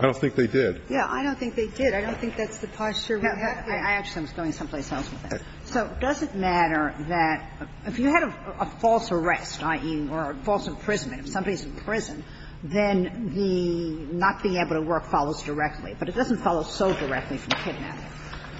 I don't think they did. Yeah, I don't think they did. I don't think that's the posture we have here. I actually was going someplace else with that. So does it matter that if you had a false arrest, i.e., or a false imprisonment, if somebody's in prison, then the not being able to work follows directly. But it doesn't follow so directly from kidnapping.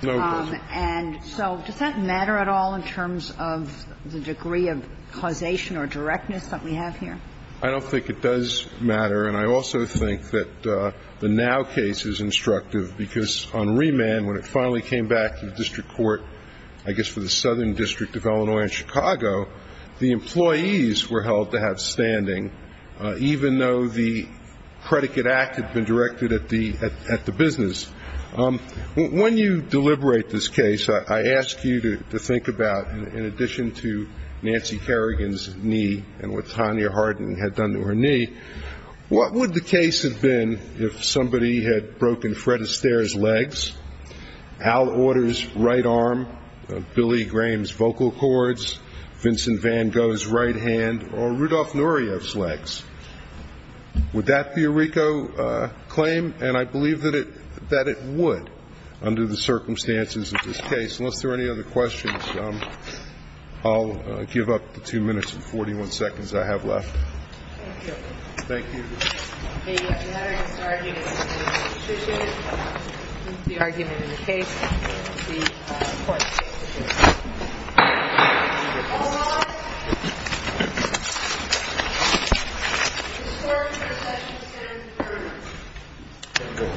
No, it doesn't. And so does that matter at all in terms of the degree of causation or directness that we have here? I don't think it does matter. And I also think that the Now case is instructive because on remand, when it finally came back to the district court, I guess for the Southern District of Illinois and Chicago, the employees were held to have standing, even though the predicate act had been directed at the business. When you deliberate this case, I ask you to think about, in addition to Nancy Kerrigan's knee and what Tanya Harden had done to her knee, what would the case have been if somebody had broken Fred Astaire's legs, Al Auder's right arm, Billy Graham's vocal cords, Vincent Van Gogh's right hand, or Rudolf Nuryev's legs? Would that be a RICO claim? And I believe that it would under the circumstances of this case. Unless there are any other questions, I'll give up the two minutes and 41 seconds I have left. Thank you. Thank you. The matter discharging the constitution is the argument in the case. The court takes the case. All rise. The score for the session stands 3-1. Thank you.